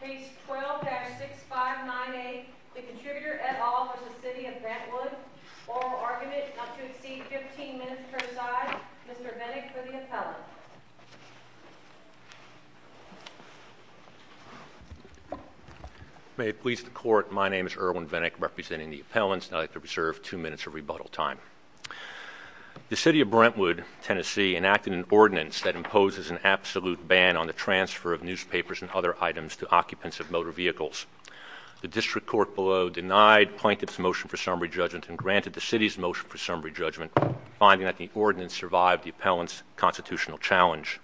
Case 12-6598, the Contributor et al. v. City of Brentwood, Oral Argument, Not to Exceed 15 Minutes per Side, Mr. Vennick for the Appellant. May it please the Court, my name is Erwin Vennick, representing the Appellants, and I'd like to reserve two minutes of rebuttal time. The City of Brentwood, Tennessee enacted an ordinance that imposes an absolute ban on the transfer of newspapers and other items to occupants of motor vehicles. The District Court below denied Plaintiff's motion for summary judgment and granted the City's motion for summary judgment, finding that the ordinance survived the Appellant's constitutional challenge.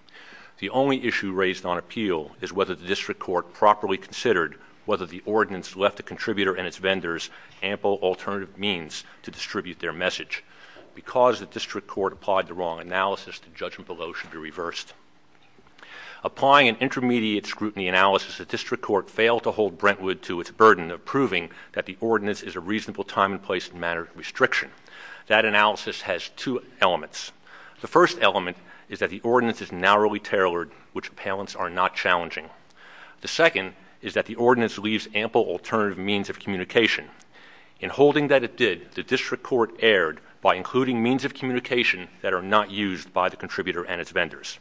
The only issue raised on appeal is whether the District Court properly considered whether the ordinance left the Contributor and its vendors ample alternative means to distribute their message. Because the District Court applied the wrong analysis, the judgment below should be reversed. Applying an intermediate scrutiny analysis, the District Court failed to hold Brentwood to its burden of proving that the ordinance is a reasonable time and place in matters of restriction. That analysis has two elements. The first element is that the ordinance is narrowly tailored, which Appellants are not challenging. The second is that the ordinance leaves ample alternative means of communication. In holding that it did, the District Court erred by including means of communication that are not used by the Contributor and its vendors.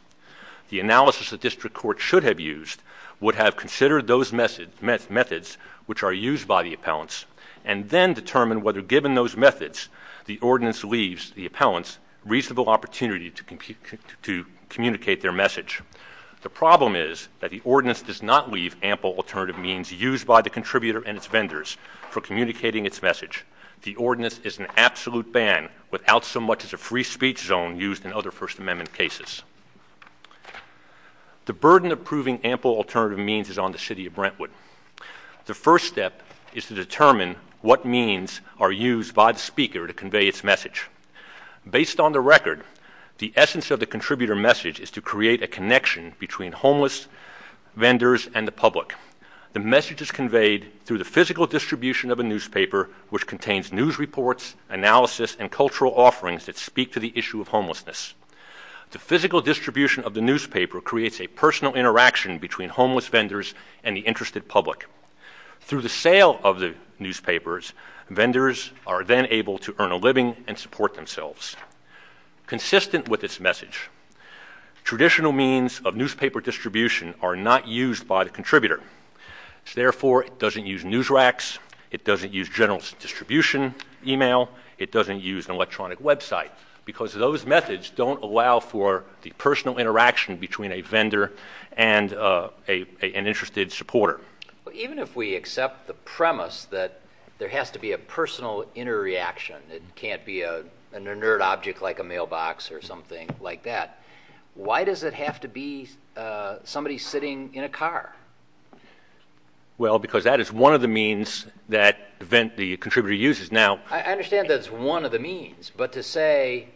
The analysis the District Court should have used would have considered those methods which are used by the Appellants and then determined whether, given those methods, the ordinance leaves the Appellants reasonable opportunity to communicate their message. The problem is that the ordinance does not leave ample alternative means used by the Contributor and its vendors for communicating its message. The ordinance is an absolute ban without so much as a free speech zone used in other First Amendment cases. The burden of proving ample alternative means is on the City of Brentwood. The first step is to determine what means are used by the Speaker to convey its message. Based on the record, the essence of the Contributor message is to create a connection between homeless vendors and the public. The message is conveyed through the physical distribution of a newspaper, which contains news reports, analysis, and cultural offerings that speak to the issue of homelessness. The physical distribution of the newspaper creates a personal interaction between homeless vendors and the interested public. Through the sale of the newspapers, vendors are then able to earn a living and support themselves. Consistent with this message, traditional means of newspaper distribution are not used by the Contributor. Therefore, it doesn't use news racks. It doesn't use general distribution email. It doesn't use an electronic website. Because those methods don't allow for the personal interaction between a vendor and an interested supporter. Even if we accept the premise that there has to be a personal inner reaction, it can't be an inert object like a mailbox or something like that, why does it have to be somebody sitting in a car? Well, because that is one of the means that the Contributor uses. I understand that it's one of the means, but to say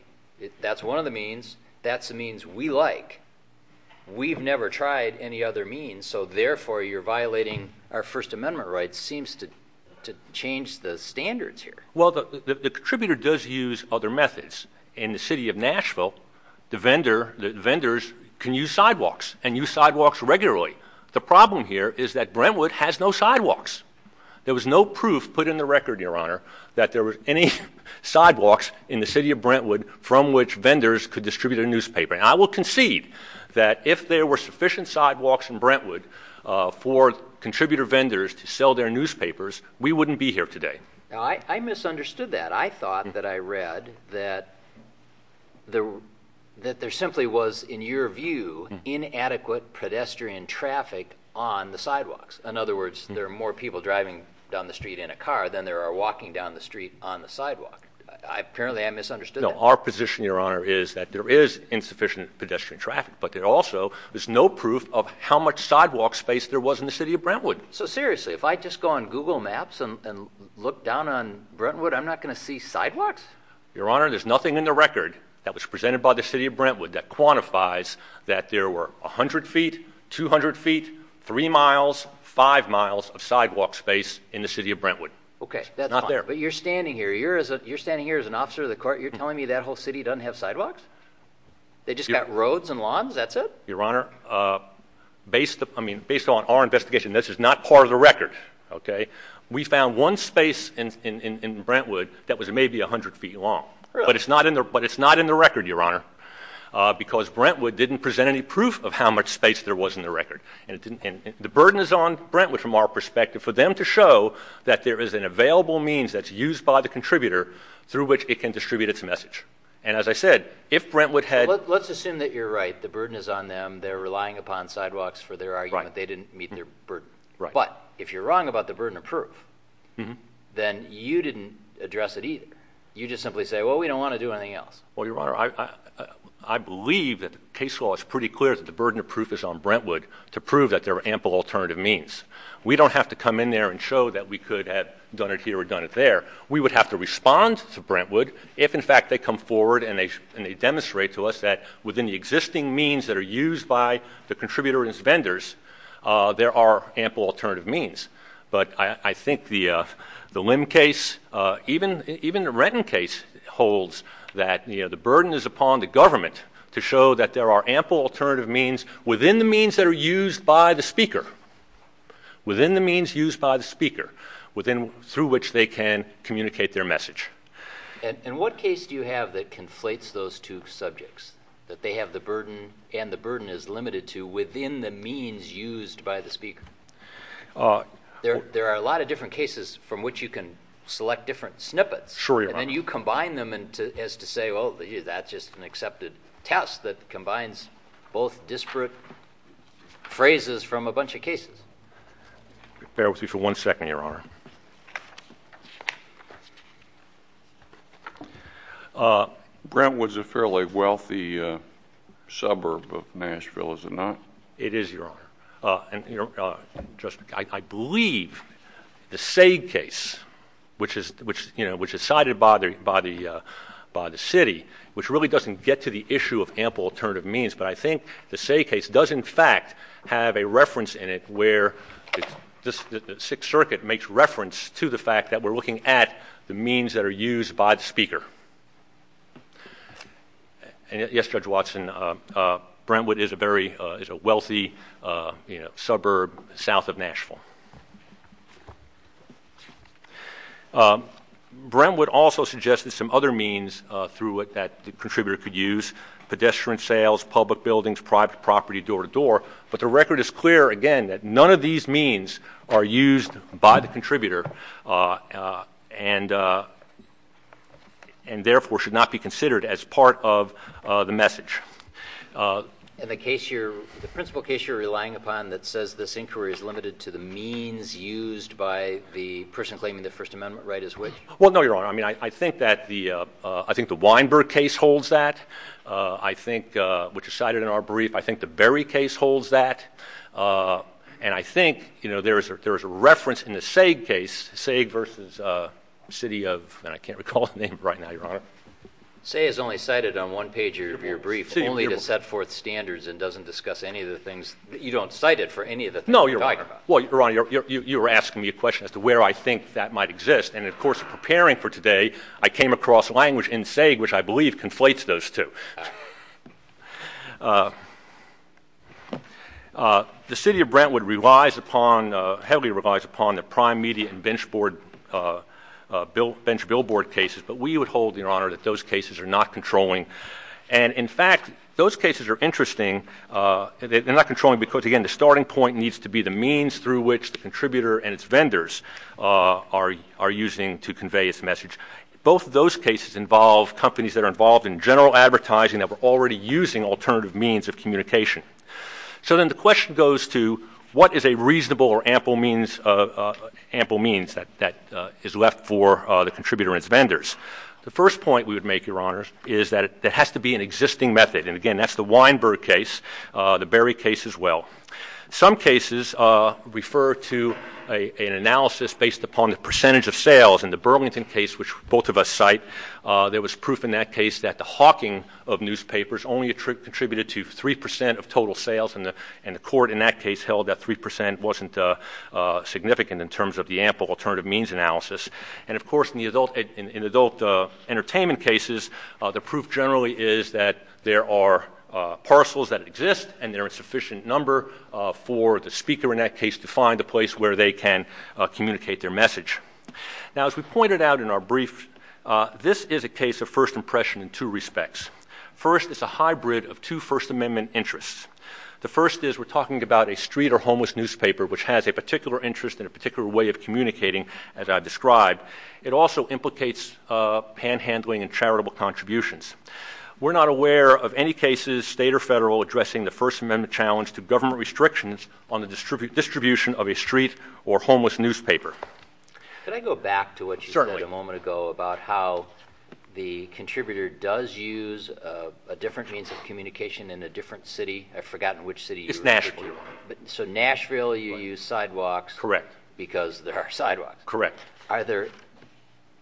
that's one of the means, that's the means we like. We've never tried any other means, so therefore you're violating our First Amendment rights seems to change the standards here. Well, the Contributor does use other methods. In the city of Nashville, the vendors can use sidewalks, and use sidewalks regularly. The problem here is that Brentwood has no sidewalks. There was no proof put in the record, Your Honor, that there were any sidewalks in the city of Brentwood from which vendors could distribute a newspaper. I will concede that if there were sufficient sidewalks in Brentwood for Contributor vendors to sell their newspapers, we wouldn't be here today. I misunderstood that. I thought that I read that there simply was, in your view, inadequate pedestrian traffic on the sidewalks. In other words, there are more people driving down the street in a car than there are walking down the street on the sidewalk. Apparently, I misunderstood that. No, our position, Your Honor, is that there is insufficient pedestrian traffic, but there also is no proof of how much sidewalk space there was in the city of Brentwood. So seriously, if I just go on Google Maps and look down on Brentwood, I'm not going to see sidewalks? Your Honor, there's nothing in the record that was presented by the city of Brentwood that quantifies that there were 100 feet, 200 feet, 3 miles, 5 miles of sidewalk space in the city of Brentwood. Okay, that's fine. It's not there. But you're standing here. You're standing here as an officer of the court. You're telling me that whole city doesn't have sidewalks? They just got roads and lawns? That's it? Your Honor, based on our investigation, this is not part of the record. We found one space in Brentwood that was maybe 100 feet long. But it's not in the record, Your Honor, because Brentwood didn't present any proof of how much space there was in the record. And the burden is on Brentwood from our perspective for them to show that there is an available means that's used by the contributor through which it can distribute its message. And as I said, if Brentwood had— Let's assume that you're right. The burden is on them. They're relying upon sidewalks for their argument. They didn't meet their burden. But if you're wrong about the burden of proof, then you didn't address it either. You just simply say, well, we don't want to do anything else. Well, Your Honor, I believe that the case law is pretty clear that the burden of proof is on Brentwood to prove that there are ample alternative means. We don't have to come in there and show that we could have done it here or done it there. We would have to respond to Brentwood if, in fact, they come forward and they demonstrate to us that within the existing means that are used by the contributor and its vendors, there are ample alternative means. But I think the Lim case, even the Renton case, holds that the burden is upon the government to show that there are ample alternative means within the means that are used by the speaker, within the means used by the speaker, through which they can communicate their message. In what case do you have that conflates those two subjects, that they have the burden and the burden is limited to within the means used by the speaker? There are a lot of different cases from which you can select different snippets. Sure, Your Honor. And then you combine them as to say, well, that's just an accepted test that combines both disparate phrases from a bunch of cases. Bear with me for one second, Your Honor. Brentwood's a fairly wealthy suburb of Nashville, is it not? It is, Your Honor. I believe the Sague case, which is cited by the city, which really doesn't get to the issue of ample alternative means, but I think the Sague case does, in fact, have a reference in it where the Sixth Circuit makes reference to the fact that we're looking at the means that are used by the speaker. Yes, Judge Watson, Brentwood is a very wealthy suburb south of Nashville. Brentwood also suggested some other means through it that the contributor could use, pedestrian sales, public buildings, private property, door-to-door. But the record is clear, again, that none of these means are used by the contributor. And, therefore, should not be considered as part of the message. And the principle case you're relying upon that says this inquiry is limited to the means used by the person claiming the First Amendment right is which? Well, no, Your Honor. I mean, I think the Weinberg case holds that, which is cited in our brief. I think the Berry case holds that. And I think there is a reference in the Sague case, Sague versus city of, and I can't recall the name right now, Your Honor. Sague is only cited on one page of your brief only to set forth standards and doesn't discuss any of the things. You don't cite it for any of the things you're talking about. No, Your Honor. Well, Your Honor, you were asking me a question as to where I think that might exist. And, of course, preparing for today, I came across language in Sague which I believe conflates those two. The city of Brentwood relies upon, heavily relies upon the prime media and bench billboard cases. But we would hold, Your Honor, that those cases are not controlling. And, in fact, those cases are interesting. They're not controlling because, again, the starting point needs to be the means through which the contributor and its vendors are using to convey its message. Both of those cases involve companies that are involved in general advertising that were already using alternative means of communication. So then the question goes to what is a reasonable or ample means that is left for the contributor and its vendors. The first point we would make, Your Honor, is that there has to be an existing method. And, again, that's the Weinberg case, the Berry case as well. Some cases refer to an analysis based upon the percentage of sales. In the Burlington case, which both of us cite, there was proof in that case that the hawking of newspapers only contributed to 3 percent of total sales. And the court in that case held that 3 percent wasn't significant in terms of the ample alternative means analysis. And, of course, in adult entertainment cases, the proof generally is that there are parcels that exist, and there are a sufficient number for the speaker in that case to find a place where they can communicate their message. Now, as we pointed out in our brief, this is a case of first impression in two respects. First, it's a hybrid of two First Amendment interests. The first is we're talking about a street or homeless newspaper, which has a particular interest and a particular way of communicating, as I described. It also implicates panhandling and charitable contributions. We're not aware of any cases, state or federal, addressing the First Amendment challenge to government restrictions on the distribution of a street or homeless newspaper. Could I go back to what you said a moment ago about how the contributor does use a different means of communication in a different city? I've forgotten which city. It's Nashville. So Nashville you use sidewalks. Correct. Because there are sidewalks. Correct. Are there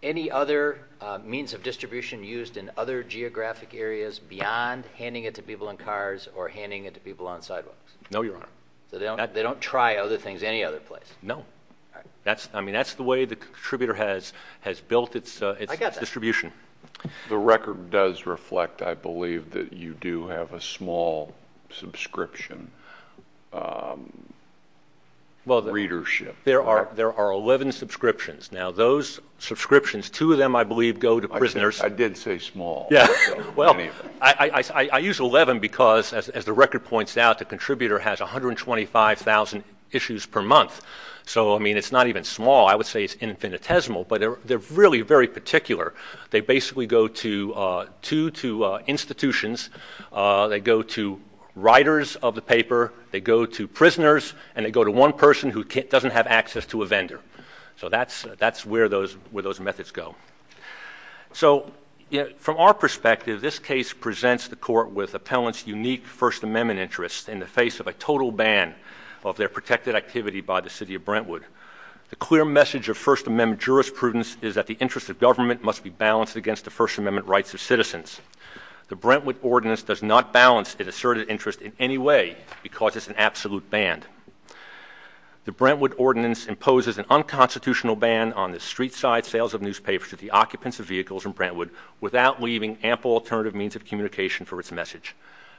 any other means of distribution used in other geographic areas beyond handing it to people in cars or handing it to people on sidewalks? No, Your Honor. So they don't try other things any other place? No. All right. I mean, that's the way the contributor has built its distribution. I got that. The record does reflect, I believe, that you do have a small subscription readership. There are 11 subscriptions. Now, those subscriptions, two of them, I believe, go to prisoners. I did say small. Well, I use 11 because, as the record points out, the contributor has 125,000 issues per month. So, I mean, it's not even small. I would say it's infinitesimal. But they're really very particular. They basically go to two institutions. They go to writers of the paper. They go to prisoners, and they go to one person who doesn't have access to a vendor. So that's where those methods go. So, from our perspective, this case presents the court with appellants' unique First Amendment interest in the face of a total ban of their protected activity by the city of Brentwood. The clear message of First Amendment jurisprudence is that the interest of government must be balanced against the First Amendment rights of citizens. The Brentwood Ordinance does not balance an asserted interest in any way because it's an absolute ban. The Brentwood Ordinance imposes an unconstitutional ban on the street-side sales of newspapers to the occupants of vehicles in Brentwood without leaving ample alternative means of communication for its message.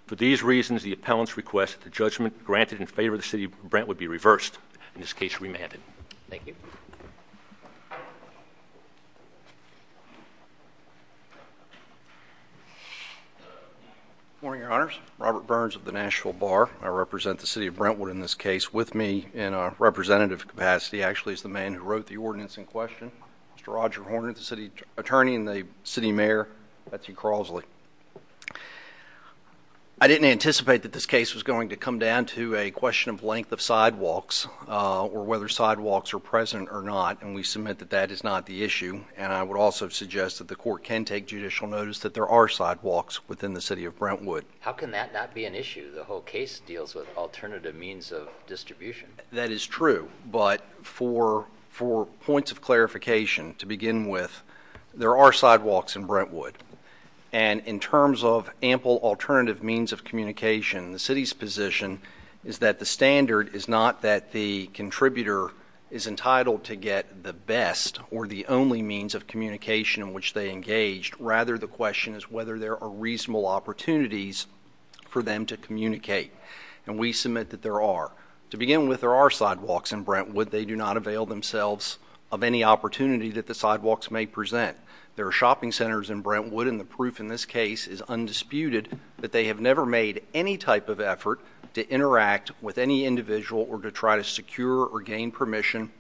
For these reasons, the appellants request that the judgment granted in favor of the city of Brentwood be reversed, in this case, remanded. Thank you. Good morning, Your Honors. Robert Burns of the Nashville Bar. I represent the city of Brentwood in this case. With me in a representative capacity, actually, is the man who wrote the ordinance in question, Mr. Roger Horner, the city attorney and the city mayor, Betsy Crosley. I didn't anticipate that this case was going to come down to a question of length of sidewalks or whether sidewalks are present or not, and we submit that that is not the issue. And I would also suggest that the court can take judicial notice that there are sidewalks within the city of Brentwood. How can that not be an issue? The whole case deals with alternative means of distribution. That is true, but for points of clarification, to begin with, there are sidewalks in Brentwood. And in terms of ample alternative means of communication, the city's position is that the standard is not that the contributor is entitled to get the best or the only means of communication in which they engaged. Rather, the question is whether there are reasonable opportunities for them to communicate. And we submit that there are. To begin with, there are sidewalks in Brentwood. They do not avail themselves of any opportunity that the sidewalks may present. There are shopping centers in Brentwood, and the proof in this case is undisputed that they have never made any type of effort to interact with any individual or to try to secure or gain permission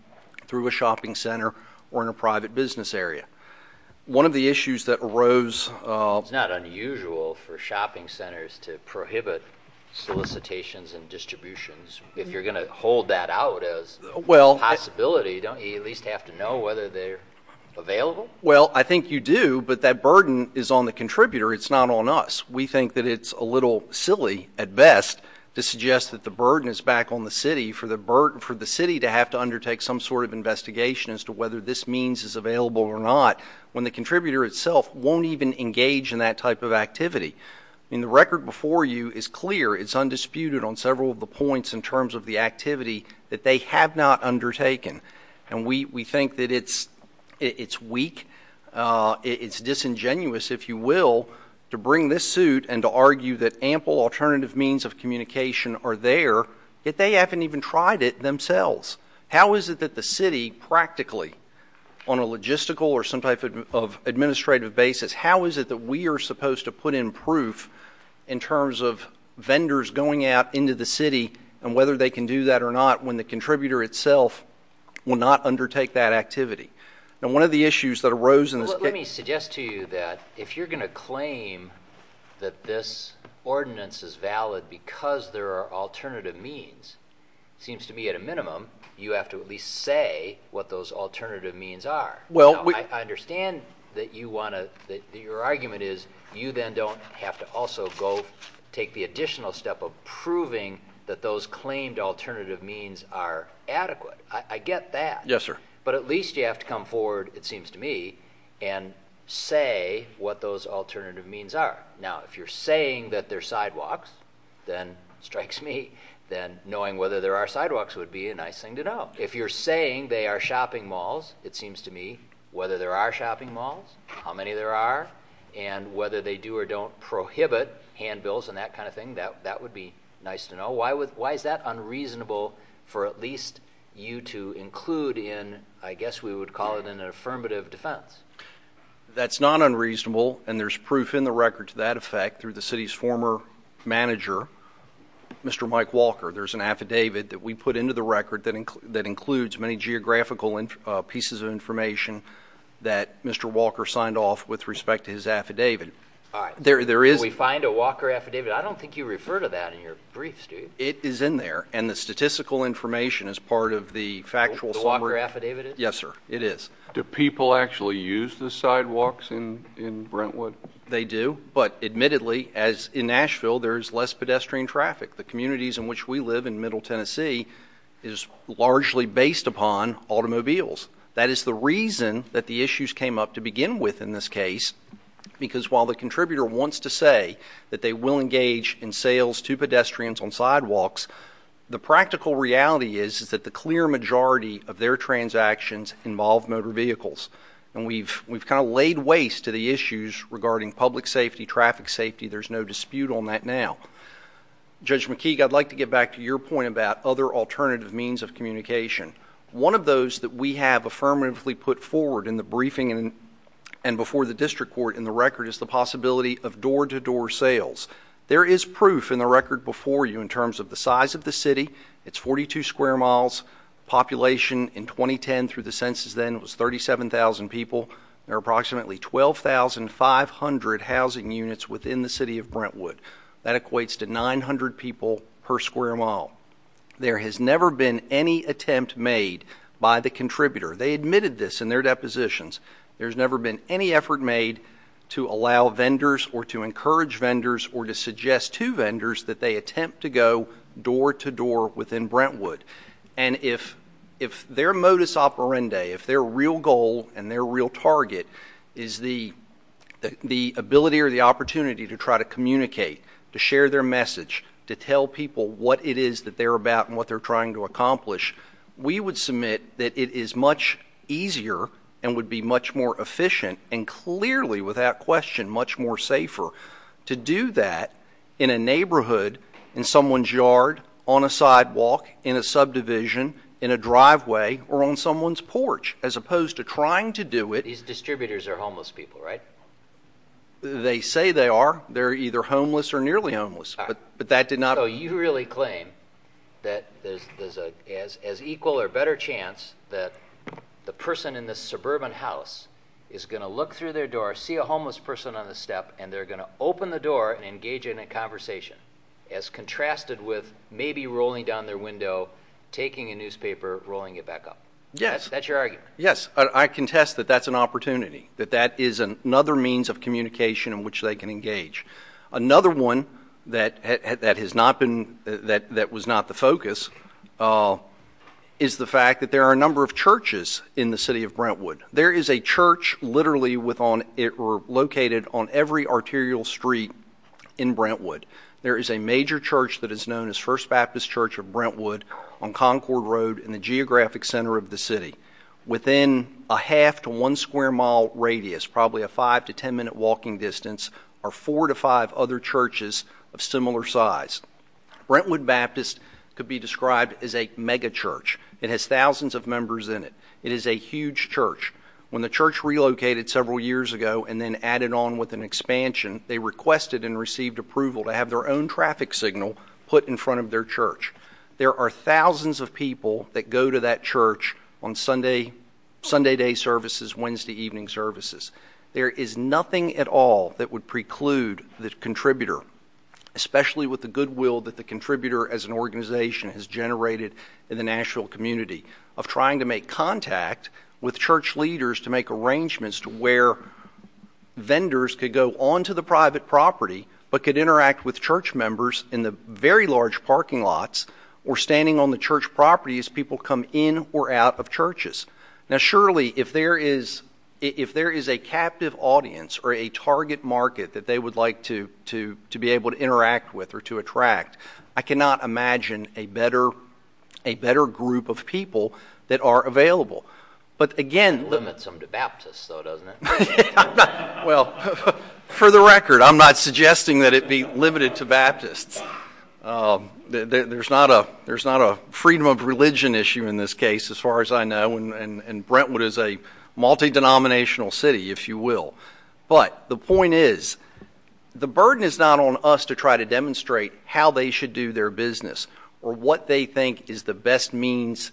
through a shopping center or in a private business area. One of the issues that arose... It's not unusual for shopping centers to prohibit solicitations and distributions. If you're going to hold that out as a possibility, don't you at least have to know whether they're available? Well, I think you do, but that burden is on the contributor. It's not on us. We think that it's a little silly at best to suggest that the burden is back on the city for the city to have to undertake some sort of investigation as to whether this means is available or not when the contributor itself won't even engage in that type of activity. I mean, the record before you is clear. It's undisputed on several of the points in terms of the activity that they have not undertaken. And we think that it's weak, it's disingenuous, if you will, to bring this suit and to argue that ample alternative means of communication are there, yet they haven't even tried it themselves. How is it that the city practically, on a logistical or some type of administrative basis, how is it that we are supposed to put in proof in terms of vendors going out into the city and whether they can do that or not when the contributor itself will not undertake that activity? Let me suggest to you that if you're going to claim that this ordinance is valid because there are alternative means, it seems to me at a minimum you have to at least say what those alternative means are. I understand that your argument is you then don't have to also go take the additional step of proving that those claimed alternative means are adequate. I get that. Yes, sir. But at least you have to come forward, it seems to me, and say what those alternative means are. Now, if you're saying that they're sidewalks, then strikes me that knowing whether there are sidewalks would be a nice thing to know. If you're saying they are shopping malls, it seems to me whether there are shopping malls, how many there are, and whether they do or don't prohibit handbills and that kind of thing, that would be nice to know. Why is that unreasonable for at least you to include in, I guess we would call it an affirmative defense? That's not unreasonable, and there's proof in the record to that effect through the city's former manager, Mr. Mike Walker. There's an affidavit that we put into the record that includes many geographical pieces of information that Mr. Walker signed off with respect to his affidavit. Can we find a Walker affidavit? I don't think you refer to that in your briefs, do you? It is in there, and the statistical information is part of the factual summary. The Walker affidavit is? Yes, sir. It is. Do people actually use the sidewalks in Brentwood? They do, but admittedly, as in Nashville, there's less pedestrian traffic. The communities in which we live in Middle Tennessee is largely based upon automobiles. That is the reason that the issues came up to begin with in this case, because while the contributor wants to say that they will engage in sales to pedestrians on sidewalks, the practical reality is that the clear majority of their transactions involve motor vehicles, and we've kind of laid waste to the issues regarding public safety, traffic safety. There's no dispute on that now. Judge McKeague, I'd like to get back to your point about other alternative means of communication. One of those that we have affirmatively put forward in the briefing and before the district court in the record is the possibility of door-to-door sales. There is proof in the record before you in terms of the size of the city. It's 42 square miles. Population in 2010 through the census then was 37,000 people. There are approximately 12,500 housing units within the city of Brentwood. That equates to 900 people per square mile. There has never been any attempt made by the contributor. They admitted this in their depositions. There's never been any effort made to allow vendors or to encourage vendors or to suggest to vendors that they attempt to go door-to-door within Brentwood. And if their modus operandi, if their real goal and their real target is the ability or the opportunity to try to communicate, to share their message, to tell people what it is that they're about and what they're trying to accomplish, we would submit that it is much easier and would be much more efficient and clearly without question much more safer to do that in a neighborhood, in someone's yard, on a sidewalk, in a subdivision, in a driveway, or on someone's porch as opposed to trying to do it. These distributors are homeless people, right? They say they are. They're either homeless or nearly homeless, but that did not... So you really claim that there's as equal or better chance that the person in this suburban house is going to look through their door, see a homeless person on the step, and they're going to open the door and engage in a conversation as contrasted with maybe rolling down their window, taking a newspaper, rolling it back up. Yes. That's your argument. Yes. I contest that that's an opportunity, that that is another means of communication in which they can engage. Another one that was not the focus is the fact that there are a number of churches in the city of Brentwood. There is a church literally located on every arterial street in Brentwood. There is a major church that is known as First Baptist Church of Brentwood on Concord Road in the geographic center of the city. Within a half to one square mile radius, probably a five to ten minute walking distance, are four to five other churches of similar size. Brentwood Baptist could be described as a mega church. It has thousands of members in it. It is a huge church. When the church relocated several years ago and then added on with an expansion, they requested and received approval to have their own traffic signal put in front of their church. There are thousands of people that go to that church on Sunday day services, Wednesday evening services. There is nothing at all that would preclude the contributor, especially with the goodwill that the contributor as an organization has generated in the Nashville community, of trying to make contact with church leaders to make arrangements to where vendors could go onto the private property but could interact with church members in the very large parking lots or standing on the church property as people come in or out of churches. Surely, if there is a captive audience or a target market that they would like to be able to interact with or to attract, I cannot imagine a better group of people that are available. It limits them to Baptists, though, doesn't it? Well, for the record, I'm not suggesting that it be limited to Baptists. There's not a freedom of religion issue in this case, as far as I know, and Brentwood is a multi-denominational city, if you will. But the point is the burden is not on us to try to demonstrate how they should do their business or what they think is the best means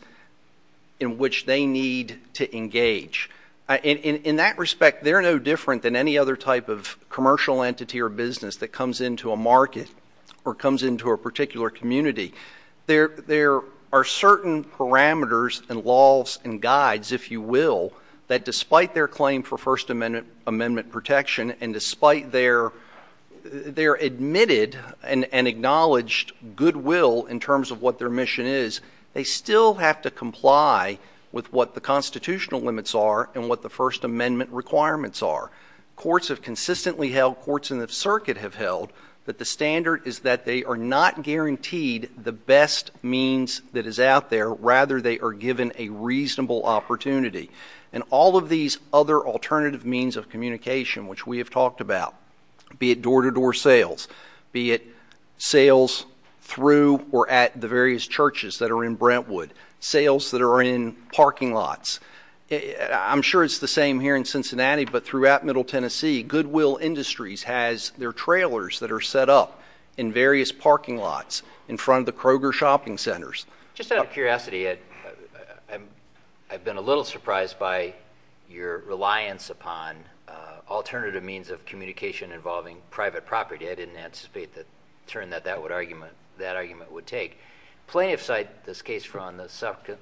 in which they need to engage. In that respect, they're no different than any other type of commercial entity or business that comes into a market or comes into a particular community. There are certain parameters and laws and guides, if you will, that despite their claim for First Amendment protection and despite their admitted and acknowledged goodwill in terms of what their mission is, they still have to comply with what the constitutional limits are and what the First Amendment requirements are. Courts have consistently held, courts in the circuit have held, that the standard is that they are not guaranteed the best means that is out there. Rather, they are given a reasonable opportunity. And all of these other alternative means of communication, which we have talked about, be it door-to-door sales, be it sales through or at the various churches that are in Brentwood, sales that are in parking lots. I'm sure it's the same here in Cincinnati, but throughout Middle Tennessee, Goodwill Industries has their trailers that are set up in various parking lots in front of the Kroger shopping centers. Just out of curiosity, I've been a little surprised by your reliance upon alternative means of communication involving private property. I didn't anticipate the turn that that argument would take. Plaintiffs cite this case from the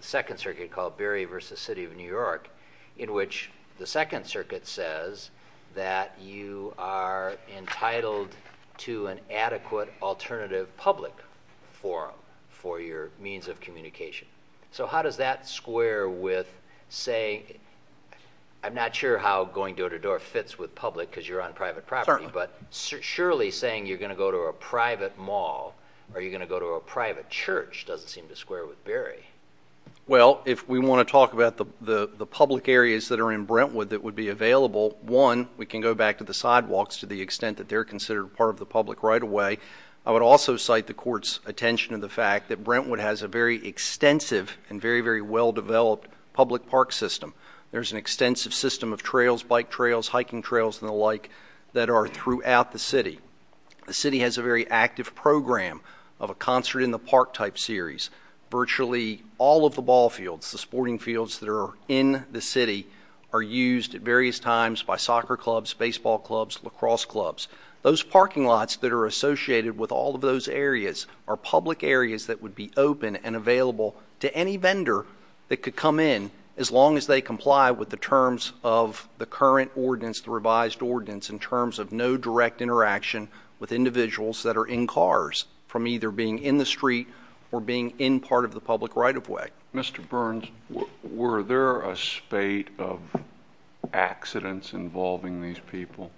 Second Circuit called Berry v. City of New York, in which the Second Circuit says that you are entitled to an adequate alternative public forum for your means of communication. So how does that square with, say, I'm not sure how going door-to-door fits with public because you're on private property, but surely saying you're going to go to a private mall or you're going to go to a private church doesn't seem to square with Berry. Well, if we want to talk about the public areas that are in Brentwood that would be available, one, we can go back to the sidewalks to the extent that they're considered part of the public right away. I would also cite the court's attention to the fact that Brentwood has a very extensive and very, very well-developed public park system. There's an extensive system of trails, bike trails, hiking trails, and the like, that are throughout the city. The city has a very active program of a concert-in-the-park type series. Virtually all of the ball fields, the sporting fields that are in the city, are used at various times by soccer clubs, baseball clubs, lacrosse clubs. Those parking lots that are associated with all of those areas are public areas that would be open and available to any vendor that could come in as long as they comply with the terms of the current ordinance, the revised ordinance, in terms of no direct interaction with individuals that are in cars from either being in the street or being in part of the public right-of-way. Mr. Burns, were there a spate of accidents involving these people?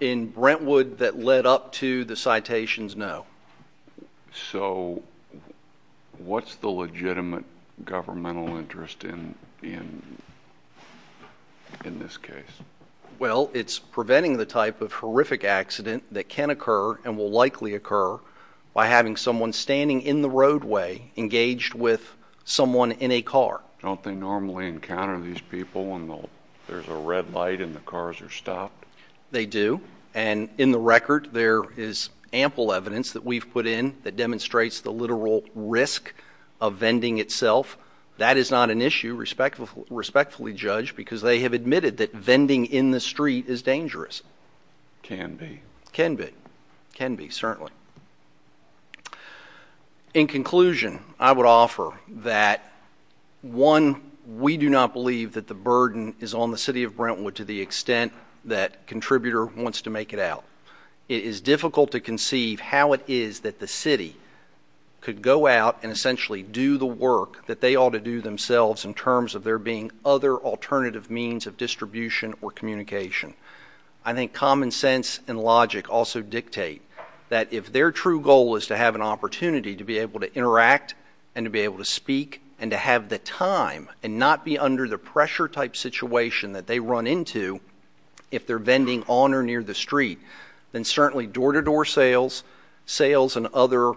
In Brentwood that led up to the citations, no. So, what's the legitimate governmental interest in this case? Well, it's preventing the type of horrific accident that can occur and will likely occur by having someone standing in the roadway engaged with someone in a car. Don't they normally encounter these people when there's a red light and the cars are stopped? They do, and in the record there is ample evidence that we've put in that demonstrates the literal risk of vending itself. That is not an issue, respectfully judged, because they have admitted that vending in the street is dangerous. Can be. Can be. Can be, certainly. In conclusion, I would offer that, one, we do not believe that the burden is on the city of Brentwood to the extent that a contributor wants to make it out. It is difficult to conceive how it is that the city could go out and essentially do the work that they ought to do themselves in terms of there being other alternative means of distribution or communication. I think common sense and logic also dictate that if their true goal is to have an opportunity to be able to interact and to be able to speak and to have the time and not be under the pressure-type situation that they run into if they're vending on or near the street, then certainly door-to-door sales, sales in other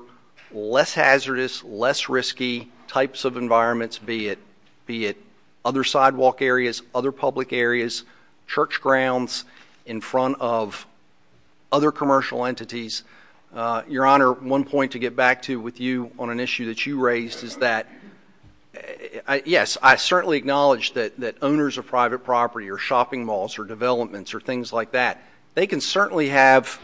less hazardous, less risky types of environments, be it other sidewalk areas, other public areas, church grounds, in front of other commercial entities. Your Honor, one point to get back to with you on an issue that you raised is that, yes, I certainly acknowledge that owners of private property or shopping malls or developments or things like that, they can certainly have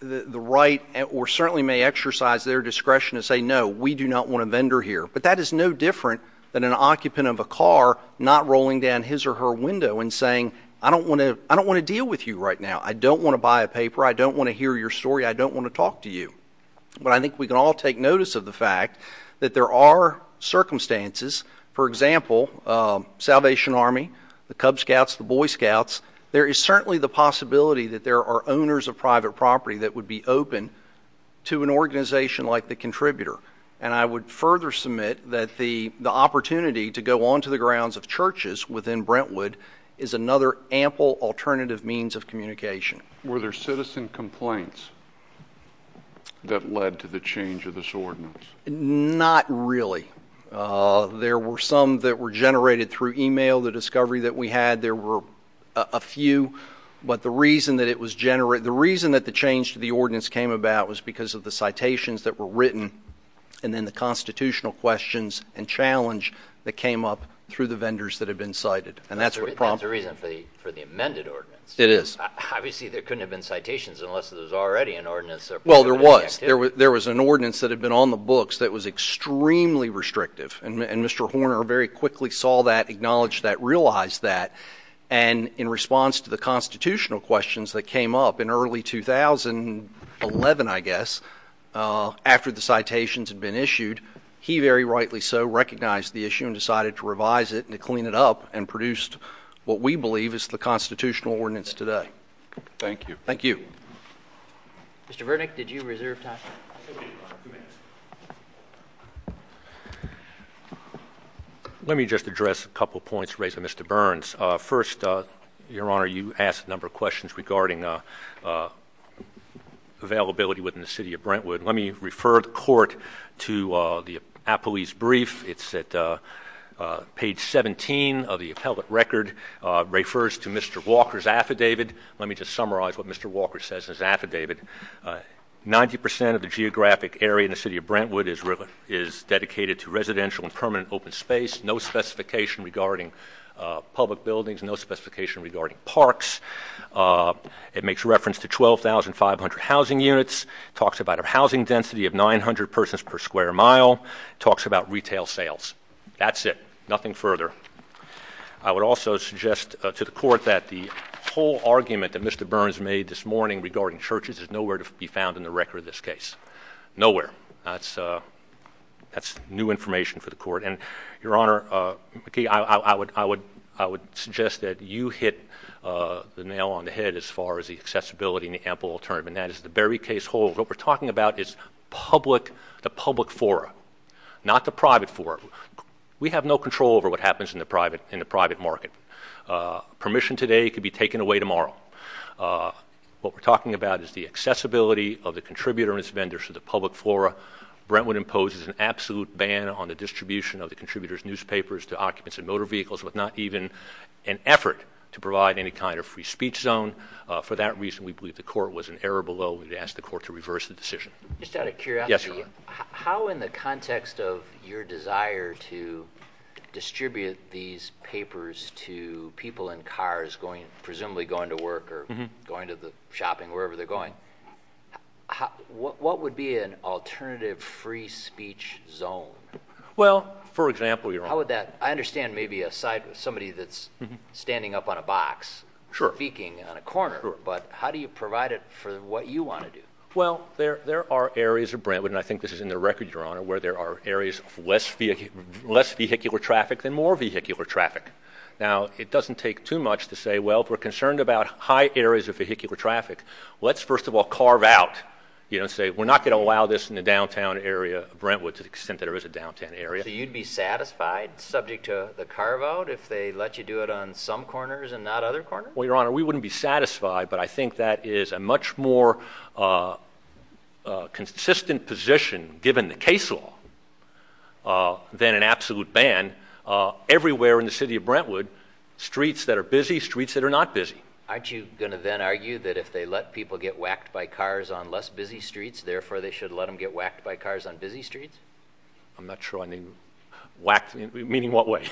the right or certainly may exercise their discretion to say, no, we do not want to vendor here. But that is no different than an occupant of a car not rolling down his or her window and saying, I don't want to deal with you right now. I don't want to buy a paper. I don't want to hear your story. I don't want to talk to you. But I think we can all take notice of the fact that there are circumstances, for example, Salvation Army, the Cub Scouts, the Boy Scouts, there is certainly the possibility that there are owners of private property that would be open to an organization like the Contributor. And I would further submit that the opportunity to go onto the grounds of churches within Brentwood is another ample alternative means of communication. Were there citizen complaints that led to the change of this ordinance? Not really. There were some that were generated through e-mail, the discovery that we had. There were a few. But the reason that it was generated, the reason that the change to the ordinance came about was because of the citations that were written and then the constitutional questions and challenge that came up through the vendors that had been cited. And that's what prompted. That's the reason for the amended ordinance. It is. Obviously, there couldn't have been citations unless there was already an ordinance. Well, there was. There was an ordinance that had been on the books that was extremely restrictive. And Mr. Horner very quickly saw that, acknowledged that, realized that. And in response to the constitutional questions that came up in early 2011, I guess, after the citations had been issued, he very rightly so recognized the issue and decided to revise it and to clean it up and produced what we believe is the constitutional ordinance today. Thank you. Thank you. Mr. Vernick, did you reserve time? Let me just address a couple of points raised by Mr. Burns. First, Your Honor, you asked a number of questions regarding availability within the city of Brentwood. Let me refer the court to the appellee's brief. It's at page 17 of the appellate record. It refers to Mr. Walker's affidavit. Let me just summarize what Mr. Walker says in his affidavit. Ninety percent of the geographic area in the city of Brentwood is dedicated to residential and permanent open space, no specification regarding public buildings, no specification regarding parks. It makes reference to 12,500 housing units, talks about a housing density of 900 persons per square mile, talks about retail sales. That's it. Nothing further. I would also suggest to the court that the whole argument that Mr. Burns made this morning regarding churches is nowhere to be found in the record of this case. Nowhere. That's new information for the court. And, Your Honor, I would suggest that you hit the nail on the head as far as the accessibility and the ample alternative, and that is the very case holds. What we're talking about is the public fora, not the private fora. We have no control over what happens in the private market. Permission today could be taken away tomorrow. What we're talking about is the accessibility of the contributor and its vendors to the public flora. Brentwood imposes an absolute ban on the distribution of the contributor's newspapers to occupants of motor vehicles with not even an effort to provide any kind of free speech zone. For that reason, we believe the court was in error below. We would ask the court to reverse the decision. Just out of curiosity. Yes, Your Honor. How, in the context of your desire to distribute these papers to people in cars presumably going to work or going to the shopping, wherever they're going, what would be an alternative free speech zone? Well, for example, Your Honor. How would that? I understand maybe a site with somebody that's standing up on a box speaking on a corner. Sure. But how do you provide it for what you want to do? Well, there are areas of Brentwood, and I think this is in the record, Your Honor, where there are areas of less vehicular traffic than more vehicular traffic. Now, it doesn't take too much to say, well, if we're concerned about high areas of vehicular traffic, let's first of all carve out, you know, and say we're not going to allow this in the downtown area of Brentwood to the extent that there is a downtown area. So you'd be satisfied subject to the carve out if they let you do it on some corners and not other corners? Well, Your Honor, we wouldn't be satisfied, but I think that is a much more consistent position, given the case law, than an absolute ban everywhere in the city of Brentwood, streets that are busy, streets that are not busy. Aren't you going to then argue that if they let people get whacked by cars on less busy streets, therefore they should let them get whacked by cars on busy streets? I'm not sure I mean whacked, meaning what way?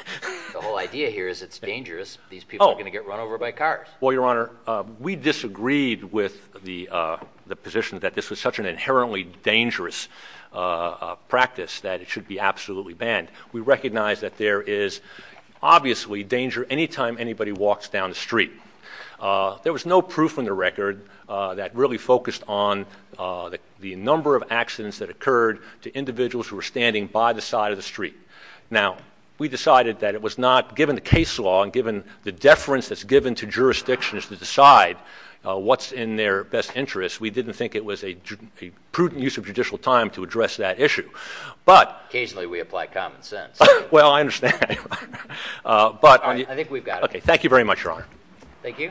The whole idea here is it's dangerous. These people are going to get run over by cars. Well, Your Honor, we disagreed with the position that this was such an inherently dangerous practice that it should be absolutely banned. We recognize that there is obviously danger any time anybody walks down the street. There was no proof in the record that really focused on the number of accidents that occurred to individuals who were standing by the side of the street. Now, we decided that it was not, given the case law and given the deference that's given to jurisdictions to decide what's in their best interest, we didn't think it was a prudent use of judicial time to address that issue. Occasionally we apply common sense. Well, I understand. I think we've got it. Thank you very much, Your Honor. Thank you. Thank you.